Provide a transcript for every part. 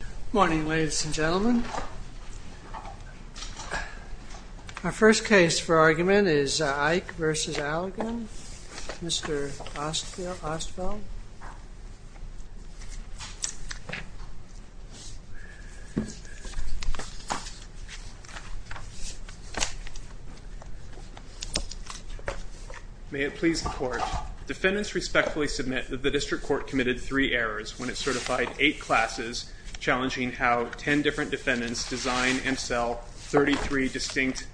Good morning ladies and gentlemen. Our first case for argument is Eike v. Allergan. Mr. Ostfeld. May it please the court, defendants respectfully submit that the district court committed three errors when it certified eight classes, challenging how 10 different defendants design and sell 33 distinct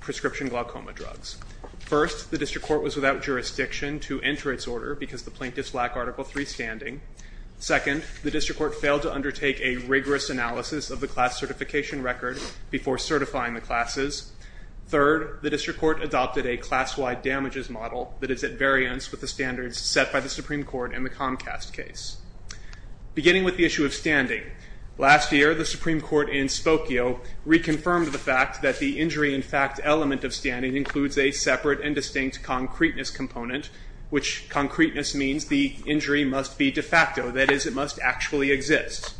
prescription glaucoma drugs. First, the district court was without jurisdiction to enter its order because the plaintiffs lack Article III standing. Second, the district court failed to undertake a rigorous analysis of the class certification record before certifying the classes. Third, the district court adopted a class-wide damages model that is at variance with the standards set by the Supreme Court in the Comcast case. Beginning with the issue of standing, last year the Supreme Court in Spokio reconfirmed the fact that the injury in fact element of standing includes a separate and distinct concreteness component, which concreteness means the injury must be de facto, that is it must actually exist.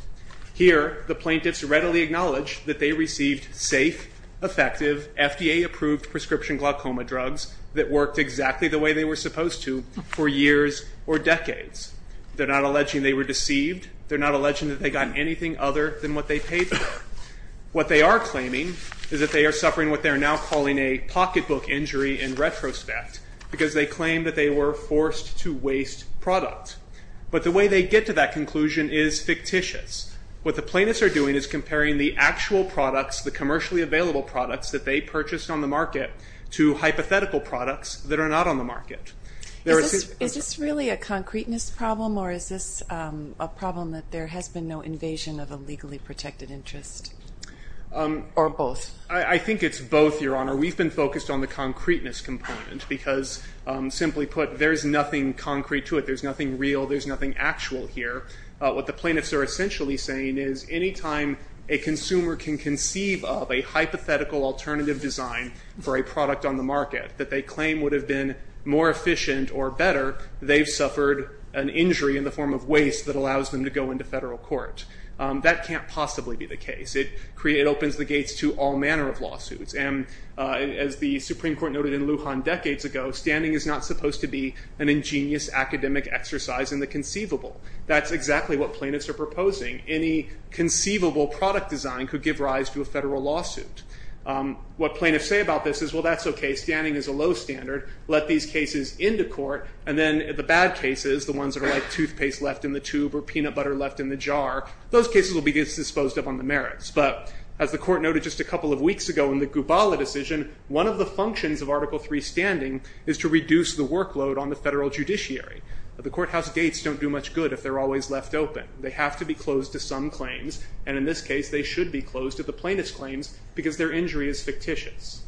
Here, the plaintiffs readily acknowledge that they received safe, effective, FDA-approved prescription glaucoma drugs that worked exactly the way they were supposed to for years or decades. They're not alleging they were deceived. They're not alleging that they got anything other than what they paid for. What they are claiming is that they are suffering what they are now calling a pocketbook injury in retrospect because they claim that they were forced to waste product. But the way they get to that conclusion is fictitious. What the plaintiffs are doing is comparing the actual products, the commercially available products that they purchased on the market to hypothetical products that are not on the market. Is this really a concreteness problem or is this a problem that there has been no invasion of a legally protected interest? Or both? I think it's both, Your Honor. We've been focused on the concreteness component because, simply put, there's nothing concrete to it. There's nothing real. There's nothing actual here. What the plaintiffs are essentially saying is anytime a consumer can conceive of a hypothetical alternative design for a product on the market that they claim would have been more efficient or better, they've suffered an injury in the form of waste that allows them to go into federal court. That can't possibly be the case. It opens the gates to all manner of lawsuits. As the Supreme Court noted in Lujan decades ago, standing is not supposed to be an ingenious academic exercise in the conceivable. That's exactly what plaintiffs are proposing. Any conceivable product design could give rise to a federal lawsuit. What plaintiffs say about this is, well, that's OK. Standing is a low standard. Let these cases into court. And then the bad cases, the ones that are like toothpaste left in the tube or peanut butter left in the jar, those cases will be disposed of on the merits. But as the court noted just a couple of weeks ago in the Gubala decision, one of the functions of Article III standing is to reduce the workload on the federal judiciary. The courthouse gates don't do much good if they're always left open. They have to be closed to some claims. And in this case, they should be closed to the plaintiff's claims because their injury is fictitious.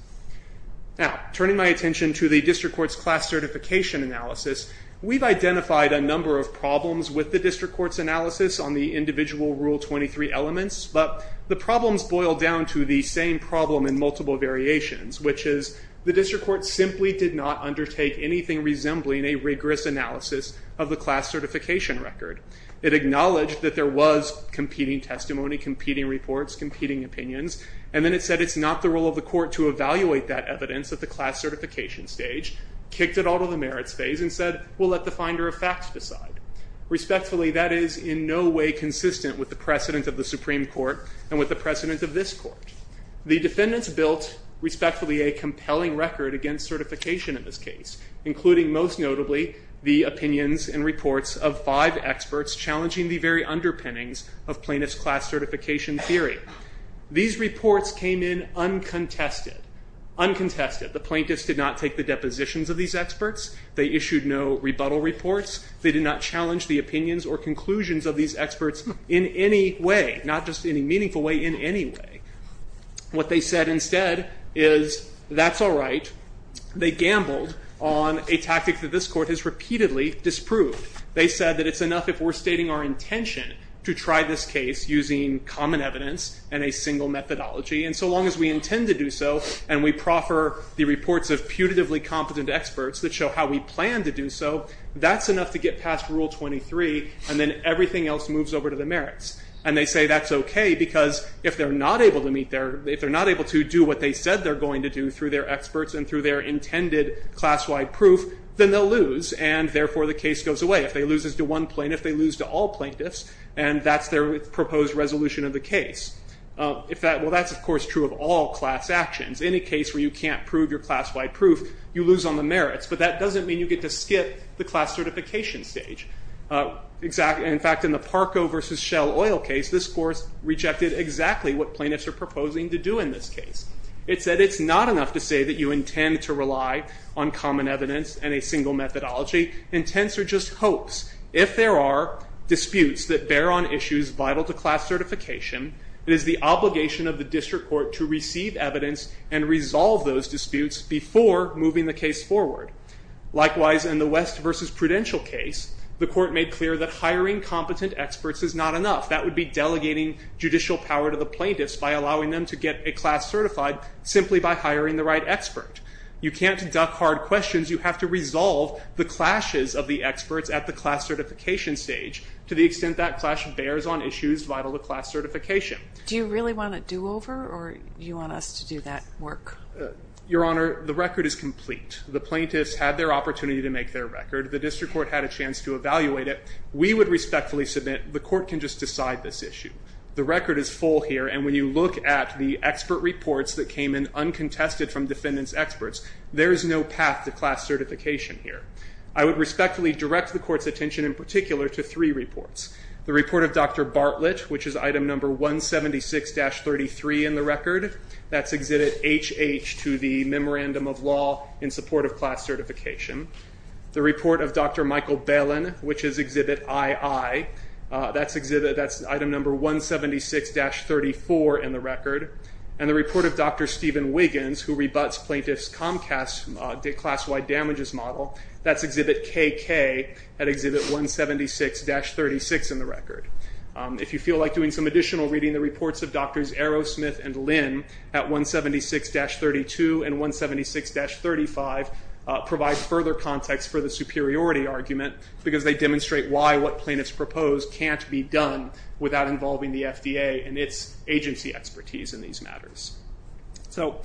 Now, turning my attention to the district court's class certification analysis, we've identified a number of problems with the district court's analysis on the individual Rule 23 elements. But the problems boil down to the same problem in multiple variations, which is the district court simply did not undertake anything resembling a rigorous analysis of the class certification record. It acknowledged that there was competing testimony, competing reports, competing opinions. And then it said it's not the role of the court to evaluate that evidence at the class certification stage, kicked it out of the merits phase and said, well, let the finder of facts decide. Respectfully, that is in no way consistent with the precedent of the Supreme Court and with the precedent of this court. The defendants built respectfully a compelling record against certification in this case, including most notably the opinions and reports of five experts challenging the very underpinnings of plaintiff's class certification theory. These reports came in uncontested, uncontested. The plaintiffs did not take the depositions of these experts. They issued no rebuttal reports. They did not challenge the opinions or conclusions of these experts in any way, not just in a meaningful way, in any way. What they said instead is that's all right. They gambled on a tactic that this court has repeatedly disproved. They said that it's enough if we're stating our intention to try this case using common evidence and a single methodology. And so long as we intend to do so and we proffer the reports of putatively competent experts that show how we plan to do so, that's enough to get past Rule 23, and then everything else moves over to the merits. And they say that's okay because if they're not able to meet their – if they're not able to do what they said they're going to do through their experts and through their intended class-wide proof, then they'll lose, and therefore the case goes away. If they lose it to one plaintiff, they lose to all plaintiffs, and that's their proposed resolution of the case. If that – well, that's, of course, true of all class actions. In a case where you can't prove your class-wide proof, you lose on the merits. But that doesn't mean you get to skip the class certification stage. In fact, in the Parco v. Shell Oil case, this court rejected exactly what plaintiffs are proposing to do in this case. It said it's not enough to say that you intend to rely on common evidence and a single methodology. Intents are just hopes. If there are disputes that bear on issues vital to class certification, it is the obligation of the district court to receive evidence and resolve those disputes before moving the case forward. Likewise, in the West v. Prudential case, the court made clear that hiring competent experts is not enough. That would be delegating judicial power to the plaintiffs by allowing them to get a class certified simply by hiring the right expert. You can't duck hard questions. You have to resolve the clashes of the experts at the class certification stage to the extent that the clash bears on issues vital to class certification. Do you really want a do-over, or do you want us to do that work? Your Honor, the record is complete. The plaintiffs had their opportunity to make their record. The district court had a chance to evaluate it. We would respectfully submit the court can just decide this issue. The record is full here, and when you look at the expert reports that came in uncontested from defendants' experts, there is no path to class certification here. I would respectfully direct the court's attention in particular to three reports. The report of Dr. Bartlett, which is Item No. 176-33 in the record. That's Exhibit HH to the Memorandum of Law in support of class certification. The report of Dr. Michael Balin, which is Exhibit II. That's Item No. 176-34 in the record. And the report of Dr. Stephen Wiggins, who rebuts plaintiffs' Comcast class-wide damages model. That's Exhibit KK at Exhibit 176-36 in the record. If you feel like doing some additional reading, the reports of Drs. Aerosmith and Lynn at 176-32 and 176-35 provide further context for the superiority argument, because they demonstrate why what plaintiffs proposed can't be done without involving the FDA and its agency expertise in these matters. So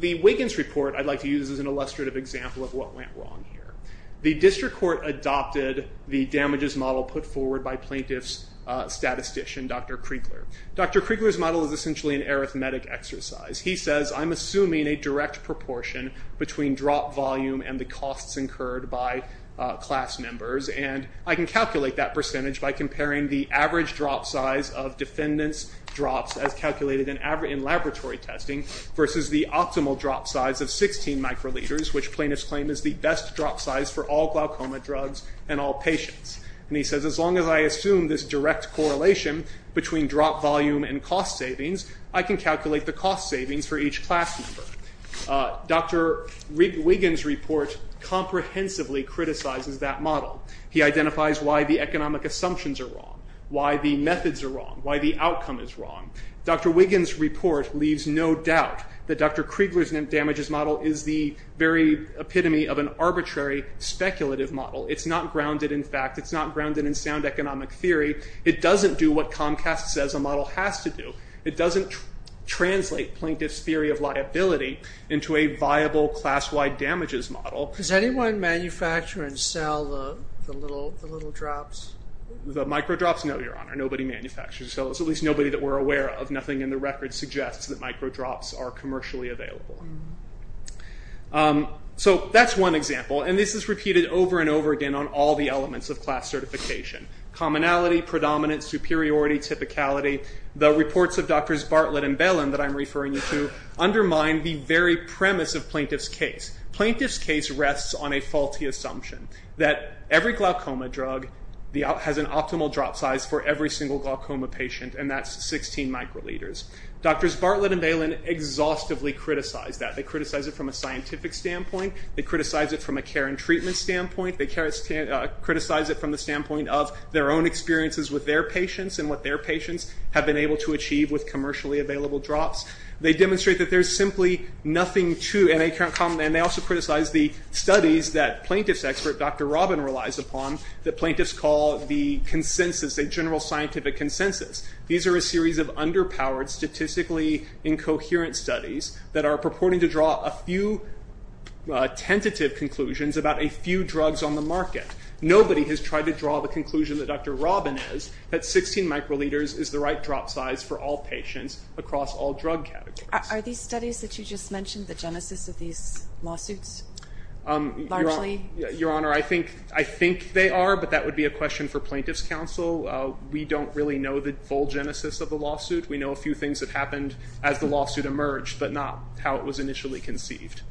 the Wiggins report I'd like to use as an illustrative example of what went wrong here. The district court adopted the damages model put forward by plaintiff's statistician, Dr. Kriegler. Dr. Kriegler's model is essentially an arithmetic exercise. He says, I'm assuming a direct proportion between drop volume and the costs incurred by class members, and I can calculate that percentage by comparing the average drop size of defendants' drops, as calculated in laboratory testing, versus the optimal drop size of 16 microliters, which plaintiffs claim is the best drop size for all glaucoma drugs and all patients. And he says, as long as I assume this direct correlation between drop volume and cost savings, I can calculate the cost savings for each class member. Dr. Wiggins' report comprehensively criticizes that model. He identifies why the economic assumptions are wrong, why the methods are wrong, why the outcome is wrong. Dr. Wiggins' report leaves no doubt that Dr. Kriegler's damages model is the very epitome of an arbitrary speculative model. It's not grounded in fact. It's not grounded in sound economic theory. It doesn't do what Comcast says a model has to do. It doesn't translate plaintiff's theory of liability into a viable class-wide damages model. Does anyone manufacture and sell the little drops? The micro drops? No, Your Honor. Nobody manufactures or sells. At least nobody that we're aware of. Nothing in the record suggests that micro drops are commercially available. So that's one example. And this is repeated over and over again on all the elements of class certification. Commonality, predominance, superiority, typicality. The reports of Drs. Bartlett and Bailyn that I'm referring you to undermine the very premise of plaintiff's case. Plaintiff's case rests on a faulty assumption that every glaucoma drug has an optimal drop size for every single glaucoma patient and that's 16 microliters. Drs. Bartlett and Bailyn exhaustively criticize that. They criticize it from a scientific standpoint. They criticize it from a care and treatment standpoint. They criticize it from the standpoint of their own experiences with their patients and what their patients have been able to achieve with commercially available drops. They demonstrate that there's simply nothing to and they also criticize the studies that plaintiff's expert, Dr. Robin, relies upon that plaintiffs call the consensus, a general scientific consensus. These are a series of underpowered statistically incoherent studies that are purporting to draw a few tentative conclusions about a few drugs on the market. Nobody has tried to draw the conclusion that Dr. Robin has that 16 microliters is the right drop size for all patients across all drug categories. Are these studies that you just mentioned the genesis of these lawsuits largely? Your Honor, I think they are but that would be a question for plaintiff's counsel. We don't really know the full genesis of the lawsuit. We know a few things that happened as the lawsuit emerged but not how it was initially conceived.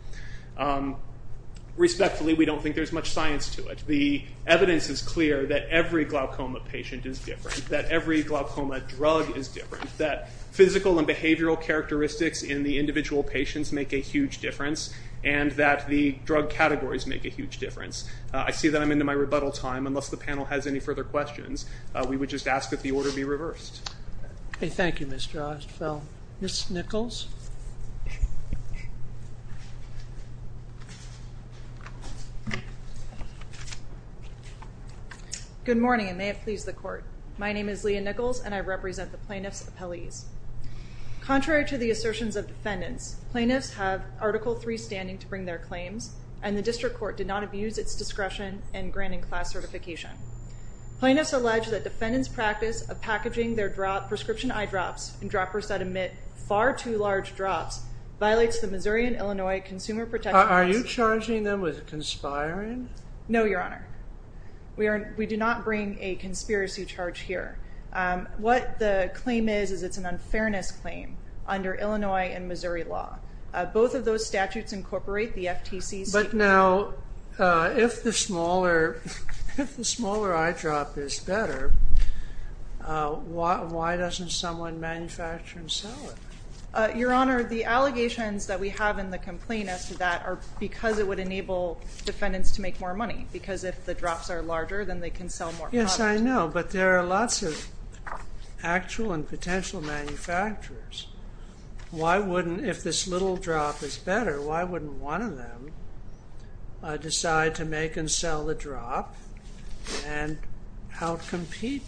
Respectfully, we don't think there's much science to it. The evidence is clear that every glaucoma patient is different, that every glaucoma drug is different, that physical and behavioral characteristics in the individual patients make a huge difference and that the drug categories make a huge difference. I see that I'm into my rebuttal time. Unless the panel has any further questions, we would just ask that the order be reversed. Thank you, Ms. Drostenfeld. Ms. Nichols. Good morning and may it please the court. My name is Leah Nichols and I represent the plaintiff's appellees. Contrary to the assertions of defendants, plaintiffs have Article III standing to bring their claims and the district court did not abuse its discretion in granting class certification. Plaintiffs allege that defendants' practice of packaging their prescription eye drops and droppers that emit far too large drops violates the Missouri and Illinois Consumer Protection Act. Are you charging them with conspiring? No, Your Honor. We do not bring a conspiracy charge here. What the claim is is it's an unfairness claim under Illinois and Missouri law. Both of those statutes incorporate the FTC's. But now, if the smaller eye drop is better, why doesn't someone manufacture and sell it? Your Honor, the allegations that we have in the complaint as to that are because it would enable defendants to make more money. Because if the drops are larger, then they can sell more products. Yes, I know, but there are lots of actual and potential manufacturers. Why wouldn't, if this little drop is better, why wouldn't one of them decide to make and sell the drop and help compete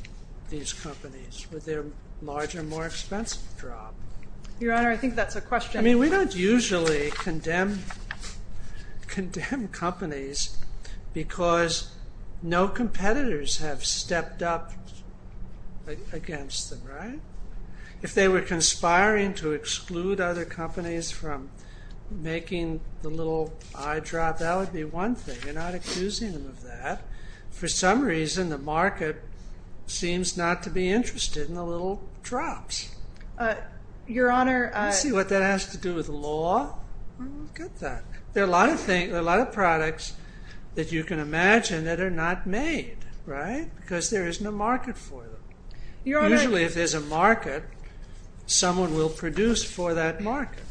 these companies with their larger, more expensive drop? Your Honor, I think that's a question. I mean, we don't usually condemn companies because no competitors have stepped up against them, right? If they were conspiring to exclude other companies from making the little eye drop, that would be one thing. You're not accusing them of that. For some reason, the market seems not to be interested in the little drops. Your Honor... Let's see what that has to do with the law. I don't get that. There are a lot of products that you can imagine that are not made, right? Because there isn't a market for them. Usually, if there's a market, someone will produce for that market.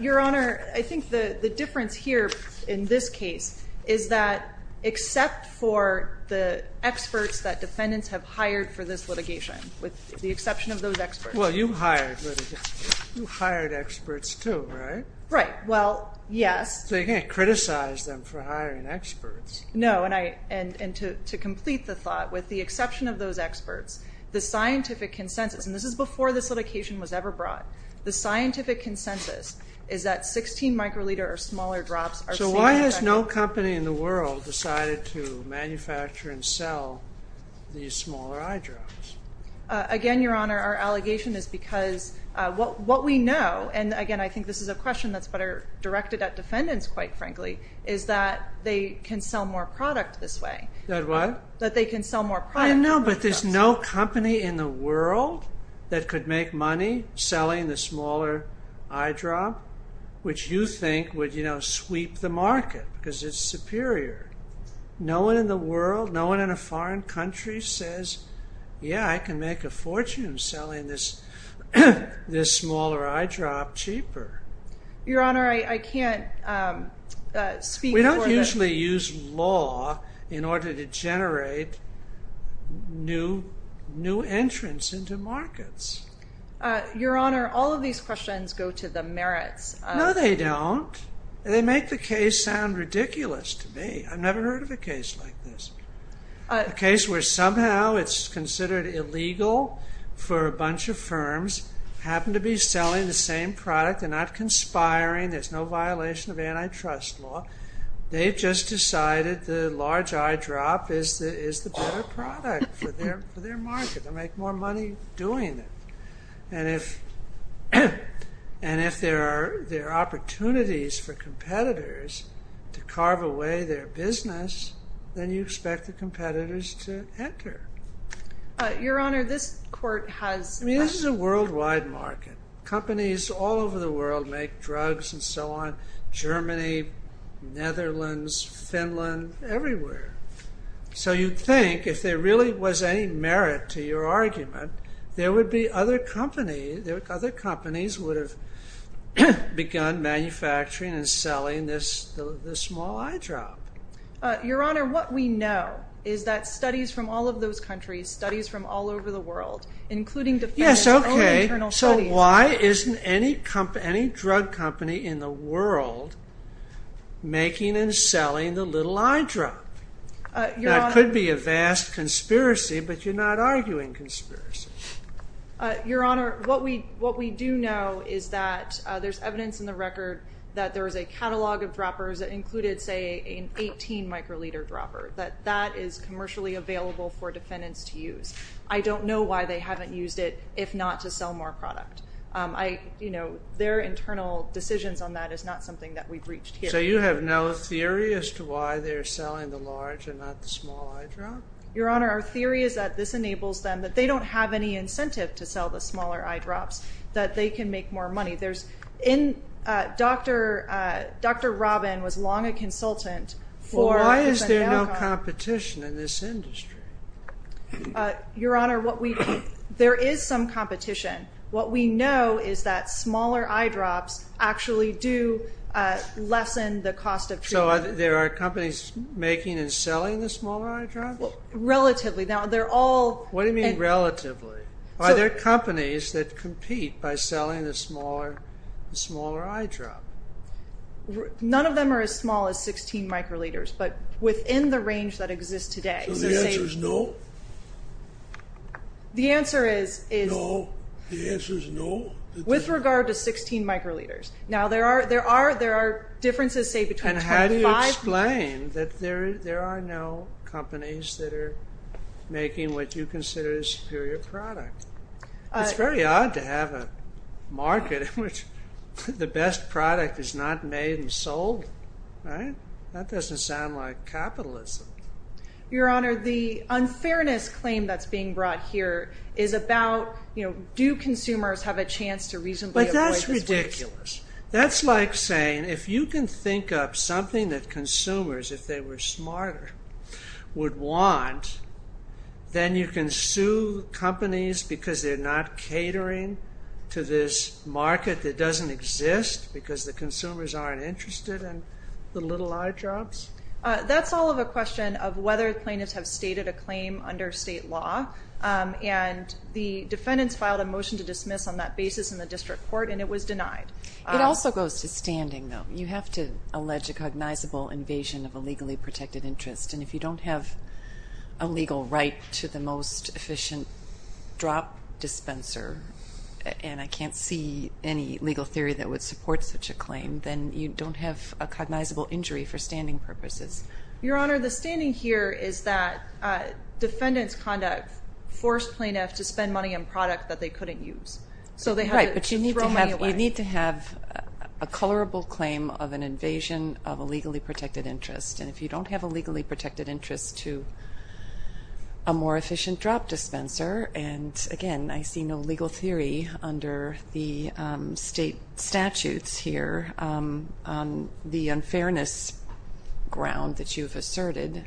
Your Honor, I think the difference here, in this case, is that except for the experts that defendants have hired for this litigation, with the exception of those experts. Well, you hired experts too, right? Right. Well, yes. So you can't criticize them for hiring experts. No, and to complete the thought, with the exception of those experts, the scientific consensus, and this is before this litigation was ever brought, the scientific consensus is that 16 microliter or smaller drops are seen as effective. So why has no company in the world decided to manufacture and sell these smaller eye drops? Again, Your Honor, our allegation is because what we know, and again, I think this is a question that's better directed at defendants, quite frankly, is that they can sell more product this way. That what? That they can sell more product. I know, but there's no company in the world that could make money selling the smaller eye drop, which you think would sweep the market because it's superior. No one in the world, no one in a foreign country says, yeah, I can make a fortune selling this smaller eye drop cheaper. Your Honor, I can't speak for the- We don't usually use law in order to generate new entrants into markets. Your Honor, all of these questions go to the merits of- No, they don't. They make the case sound ridiculous to me. I've never heard of a case like this. selling the same product. They're not conspiring. There's no violation of antitrust law. They've just decided the large eye drop is the better product for their market. They'll make more money doing it. And if there are opportunities for competitors to carve away their business, then you expect the competitors to enter. Your Honor, this court has- I mean, this is a worldwide market. Companies all over the world make drugs and so on. Germany, Netherlands, Finland, everywhere. So you'd think if there really was any merit to your argument, there would be other companies would have begun manufacturing and selling this small eye drop. Your Honor, what we know is that studies from all of those countries, studies from all over the world, including- Yes, okay. So why isn't any drug company in the world making and selling the little eye drop? That could be a vast conspiracy, but you're not arguing conspiracy. Your Honor, what we do know is that there's evidence in the record that there is a catalog of droppers that included, say, an 18-microliter dropper, that that is commercially available for defendants to use. I don't know why they haven't used it, if not to sell more product. Their internal decisions on that is not something that we've reached here. So you have no theory as to why they're selling the large and not the small eye drop? Your Honor, our theory is that this enables them, that they don't have any incentive to sell the smaller eye drops, that they can make more money. Dr. Robin was long a consultant for- Why is there no competition in this industry? Your Honor, there is some competition. What we know is that smaller eye drops actually do lessen the cost of treatment. So there are companies making and selling the smaller eye drops? Relatively. What do you mean relatively? Are there companies that compete by selling the smaller eye drop? None of them are as small as 16 microliters, but within the range that exists today. So the answer is no? The answer is- No? The answer is no? With regard to 16 microliters. Now, there are differences, say, between 25- It's very odd to have a market in which the best product is not made and sold. That doesn't sound like capitalism. Your Honor, the unfairness claim that's being brought here is about, do consumers have a chance to reasonably- But that's ridiculous. That's like saying if you can think up something that consumers, if they were smarter, would want, then you can sue companies because they're not catering to this market that doesn't exist because the consumers aren't interested in the little eye drops? That's all of a question of whether plaintiffs have stated a claim under state law. And the defendants filed a motion to dismiss on that basis in the district court, and it was denied. It also goes to standing, though. You have to allege a cognizable invasion of a legally protected interest. And if you don't have a legal right to the most efficient drop dispenser, and I can't see any legal theory that would support such a claim, then you don't have a cognizable injury for standing purposes. Your Honor, the standing here is that defendants conduct forced plaintiffs to spend money on product that they couldn't use. Right, but you need to have a colorable claim of an invasion of a legally protected interest. And if you don't have a legally protected interest to a more efficient drop dispenser, and again, I see no legal theory under the state statutes here on the unfairness ground that you've asserted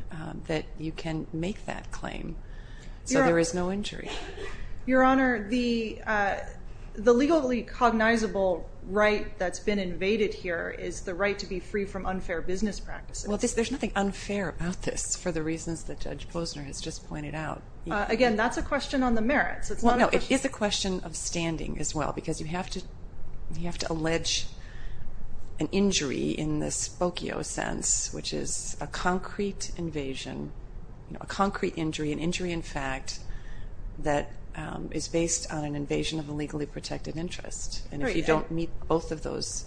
that you can make that claim so there is no injury. Your Honor, the legally cognizable right that's been invaded here is the right to be free from unfair business practices. Well, there's nothing unfair about this for the reasons that Judge Posner has just pointed out. Again, that's a question on the merits. Well, no, it is a question of standing as well, because you have to allege an injury in the spokio sense, which is a concrete invasion, a concrete injury, an injury in fact, that is based on an invasion of a legally protected interest. And if you don't meet both of those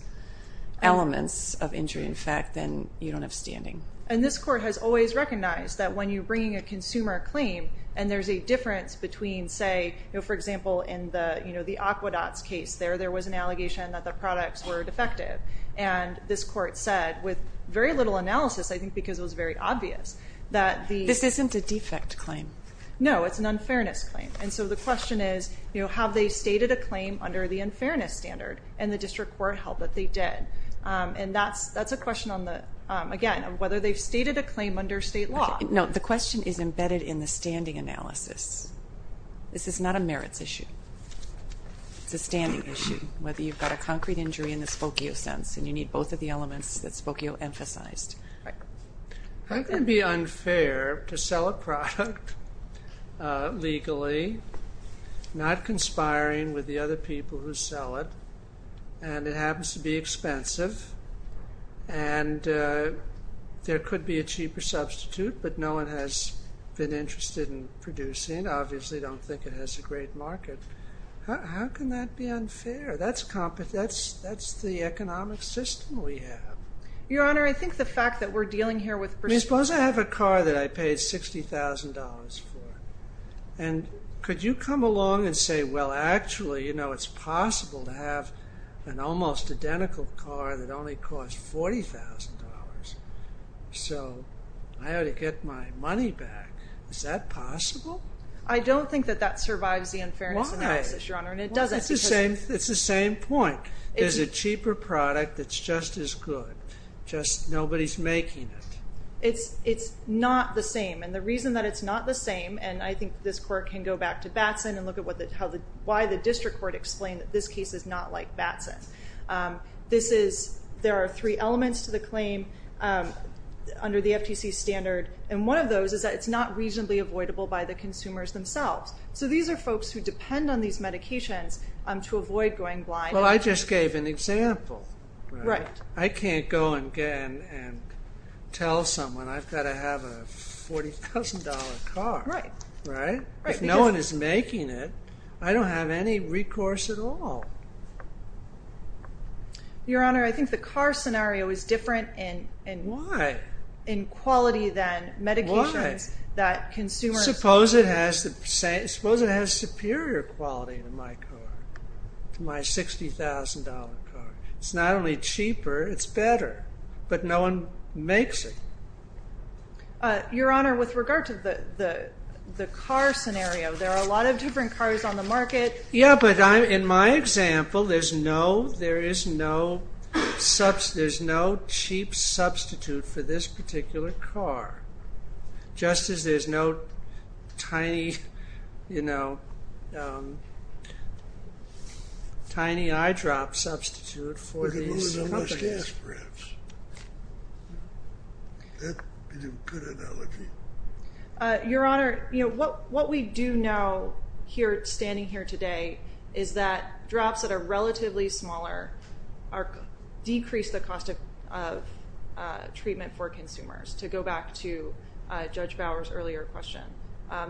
elements of injury in fact, then you don't have standing. And this Court has always recognized that when you bring a consumer claim and there's a difference between, say, for example, in the Aquedots case there, there was an allegation that the products were defective. And this Court said, with very little analysis, I think because it was very obvious, that the… This isn't a defect claim. No, it's an unfairness claim. And so the question is, have they stated a claim under the unfairness standard? And the District Court held that they did. And that's a question on the, again, whether they've stated a claim under state law. No, the question is embedded in the standing analysis. This is not a merits issue. It's a standing issue, whether you've got a concrete injury in the spokio sense, and you need both of the elements that spokio emphasized. How can it be unfair to sell a product legally, not conspiring with the other people who sell it, and it happens to be expensive, and there could be a cheaper substitute, but no one has been interested in producing, obviously don't think it has a great market. How can that be unfair? That's the economic system we have. Your Honor, I think the fact that we're dealing here with… Suppose I have a car that I paid $60,000 for, and could you come along and say, well, actually, you know, it's possible to have an almost identical car that only costs $40,000, so I ought to get my money back. Is that possible? I don't think that that survives the unfairness analysis, Your Honor. Why? And it doesn't, because… It's the same point. There's a cheaper product that's just as good, just nobody's making it. It's not the same, and the reason that it's not the same, and I think this court can go back to Batson and look at why the district court explained that this case is not like Batson. There are three elements to the claim under the FTC standard, and one of those is that it's not reasonably avoidable by the consumers themselves. So these are folks who depend on these medications to avoid going blind. Well, I just gave an example. Right. I can't go and tell someone, I've got to have a $40,000 car. Right. Right? If no one is making it, I don't have any recourse at all. Your Honor, I think the car scenario is different in… Why? In quality than medications that consumers… Why? Suppose it has superior quality to my car, to my $60,000 car. It's not only cheaper, it's better, but no one makes it. Your Honor, with regard to the car scenario, there are a lot of different cars on the market. Yeah, but in my example, there is no cheap substitute for this particular car, just as there's no tiny eye drop substitute for these companies. With a little less gas, perhaps. That would be a good analogy. Your Honor, what we do know here, standing here today, is that drops that are relatively smaller decrease the cost of treatment for consumers to go back to Judge Bauer's earlier question.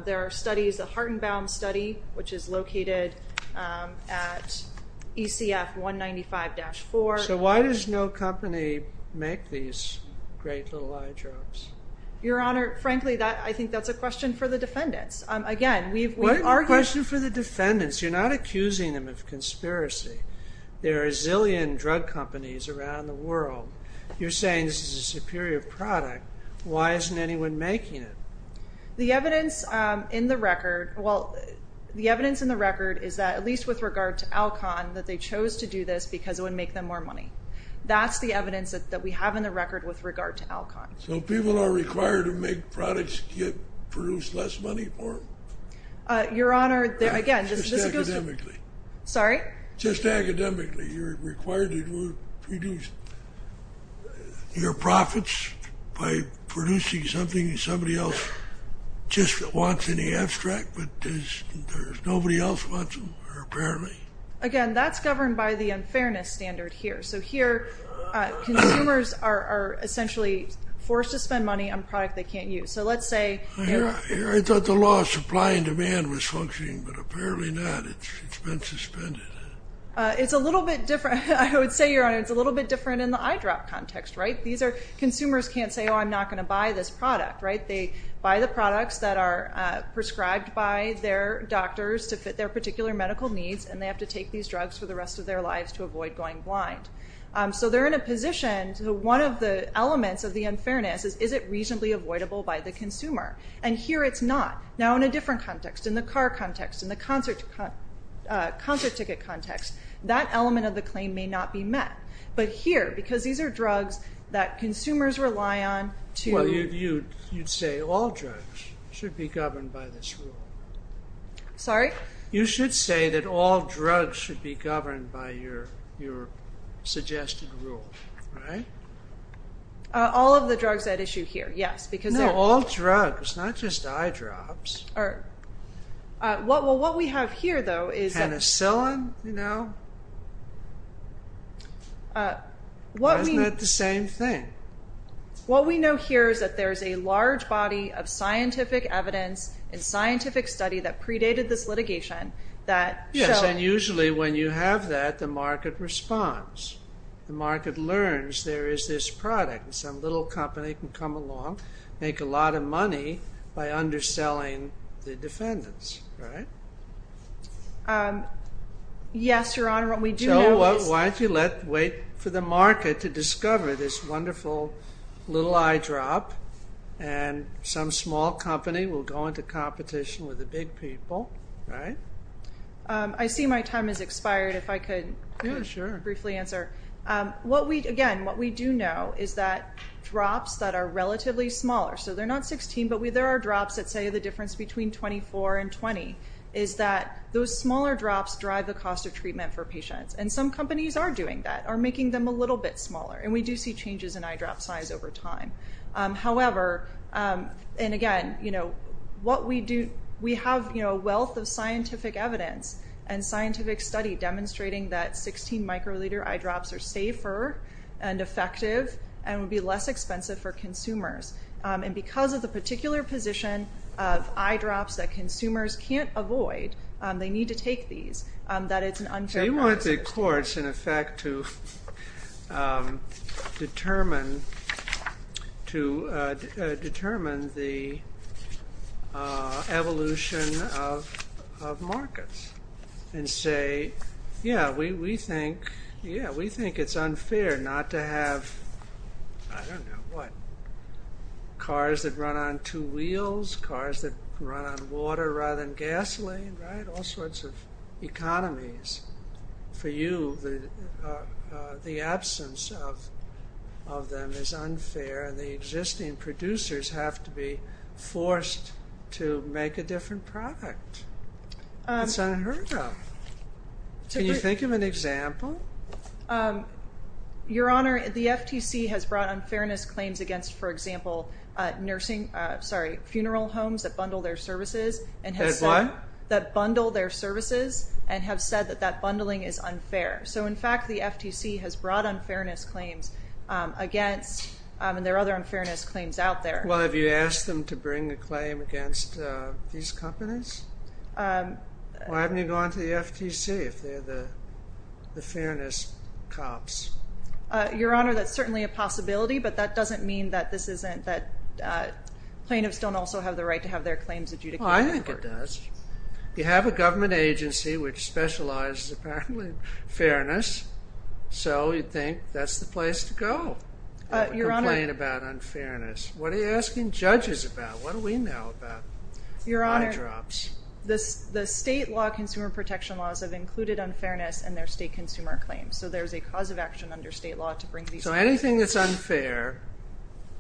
There are studies, the Hartenbaum study, which is located at ECF 195-4. So why does no company make these great little eye drops? Your Honor, frankly, I think that's a question for the defendants. Again, we've argued… What a question for the defendants. You're not accusing them of conspiracy. There are a zillion drug companies around the world. You're saying this is a superior product. Why isn't anyone making it? The evidence in the record, well, the evidence in the record is that, at least with regard to Alcon, that they chose to do this because it would make them more money. That's the evidence that we have in the record with regard to Alcon. So people are required to make products to produce less money for them? Your Honor, again, this goes to… Just academically. Sorry? Just academically, you're required to produce your profits by producing something somebody else just wants in the abstract, but there's nobody else who wants them, apparently. Again, that's governed by the unfairness standard here. So here, consumers are essentially forced to spend money on a product they can't use. So let's say… I thought the law of supply and demand was functioning, but apparently not. It's been suspended. It's a little bit different. I would say, Your Honor, it's a little bit different in the eye drop context. Consumers can't say, oh, I'm not going to buy this product. They buy the products that are prescribed by their doctors to fit their particular medical needs, and they have to take these drugs for the rest of their lives to avoid going blind. So they're in a position, one of the elements of the unfairness is, is it reasonably avoidable by the consumer? And here it's not. Now, in a different context, in the car context, in the concert ticket context, that element of the claim may not be met. But here, because these are drugs that consumers rely on to… Well, you'd say all drugs should be governed by this rule. Sorry? You should say that all drugs should be governed by your suggested rule, right? All of the drugs at issue here, yes, because… No, all drugs, not just eye drops. Well, what we have here, though, is… Penicillin, you know? Isn't that the same thing? What we know here is that there's a large body of scientific evidence and scientific study that predated this litigation that… Yes, and usually when you have that, the market responds. The market learns there is this product, and some little company can come along, make a lot of money by underselling the defendants, right? Yes, Your Honor, what we do know is… So why don't you wait for the market to discover this wonderful little eye drop, and some small company will go into competition with the big people, right? I see my time has expired. If I could briefly answer. Again, what we do know is that drops that are relatively smaller, so they're not 16, but there are drops that say the difference between 24 and 20, is that those smaller drops drive the cost of treatment for patients, and some companies are doing that, are making them a little bit smaller, and we do see changes in eye drop size over time. However, and again, what we do… We have a wealth of scientific evidence and scientific study demonstrating that 16-microliter eye drops are safer and effective and would be less expensive for consumers, and because of the particular position of eye drops that consumers can't avoid, they need to take these, that it's an unfair process. So you want the courts, in effect, to determine the evolution of markets and say, yeah, we think it's unfair not to have, I don't know, what? Cars that run on two wheels, cars that run on water rather than gasoline, right? All sorts of economies. For you, the absence of them is unfair, and the existing producers have to be forced to make a different product. It's unheard of. Can you think of an example? Your Honor, the FTC has brought unfairness claims against, for example, funeral homes that bundle their services and have said that that bundling is unfair. So in fact, the FTC has brought unfairness claims against, and there are other unfairness claims out there. Well, have you asked them to bring a claim against these companies? Why haven't you gone to the FTC if they're the fairness cops? Your Honor, that's certainly a possibility, but that doesn't mean that this isn't, that plaintiffs don't also have the right to have their claims adjudicated. Well, I think it does. You have a government agency which specializes, apparently, in fairness, so you'd think that's the place to go. I have a complaint about unfairness. What are you asking judges about? What do we know about eye drops? Your Honor, the state law consumer protection laws have included unfairness in their state consumer claims, so there's a cause of action under state law to bring these claims. So anything that's unfair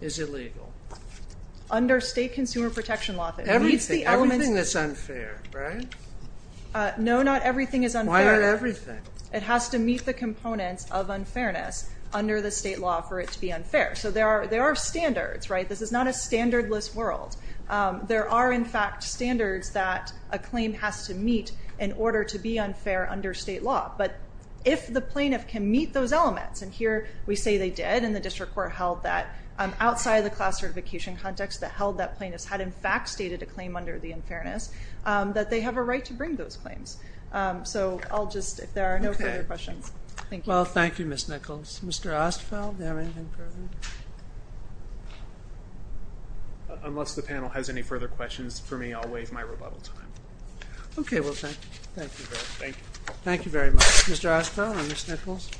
is illegal? Under state consumer protection law, it meets the elements. Everything that's unfair, right? No, not everything is unfair. Why not everything? It has to meet the components of unfairness under the state law for it to be unfair. So there are standards, right? This is not a standardless world. There are, in fact, standards that a claim has to meet in order to be unfair under state law, but if the plaintiff can meet those elements, and here we say they did, and the district court held that outside of the class certification context that held that plaintiffs had in fact stated a claim under the unfairness, that they have a right to bring those claims. So I'll just, if there are no further questions. Okay. Thank you. Well, thank you, Ms. Nichols. Mr. Ostfeld, do you have anything further? Unless the panel has any further questions for me, I'll waive my rebuttal time. Okay, well, thank you. Thank you very much. Thank you. Thank you very much. Mr. Ostfeld or Ms. Nichols?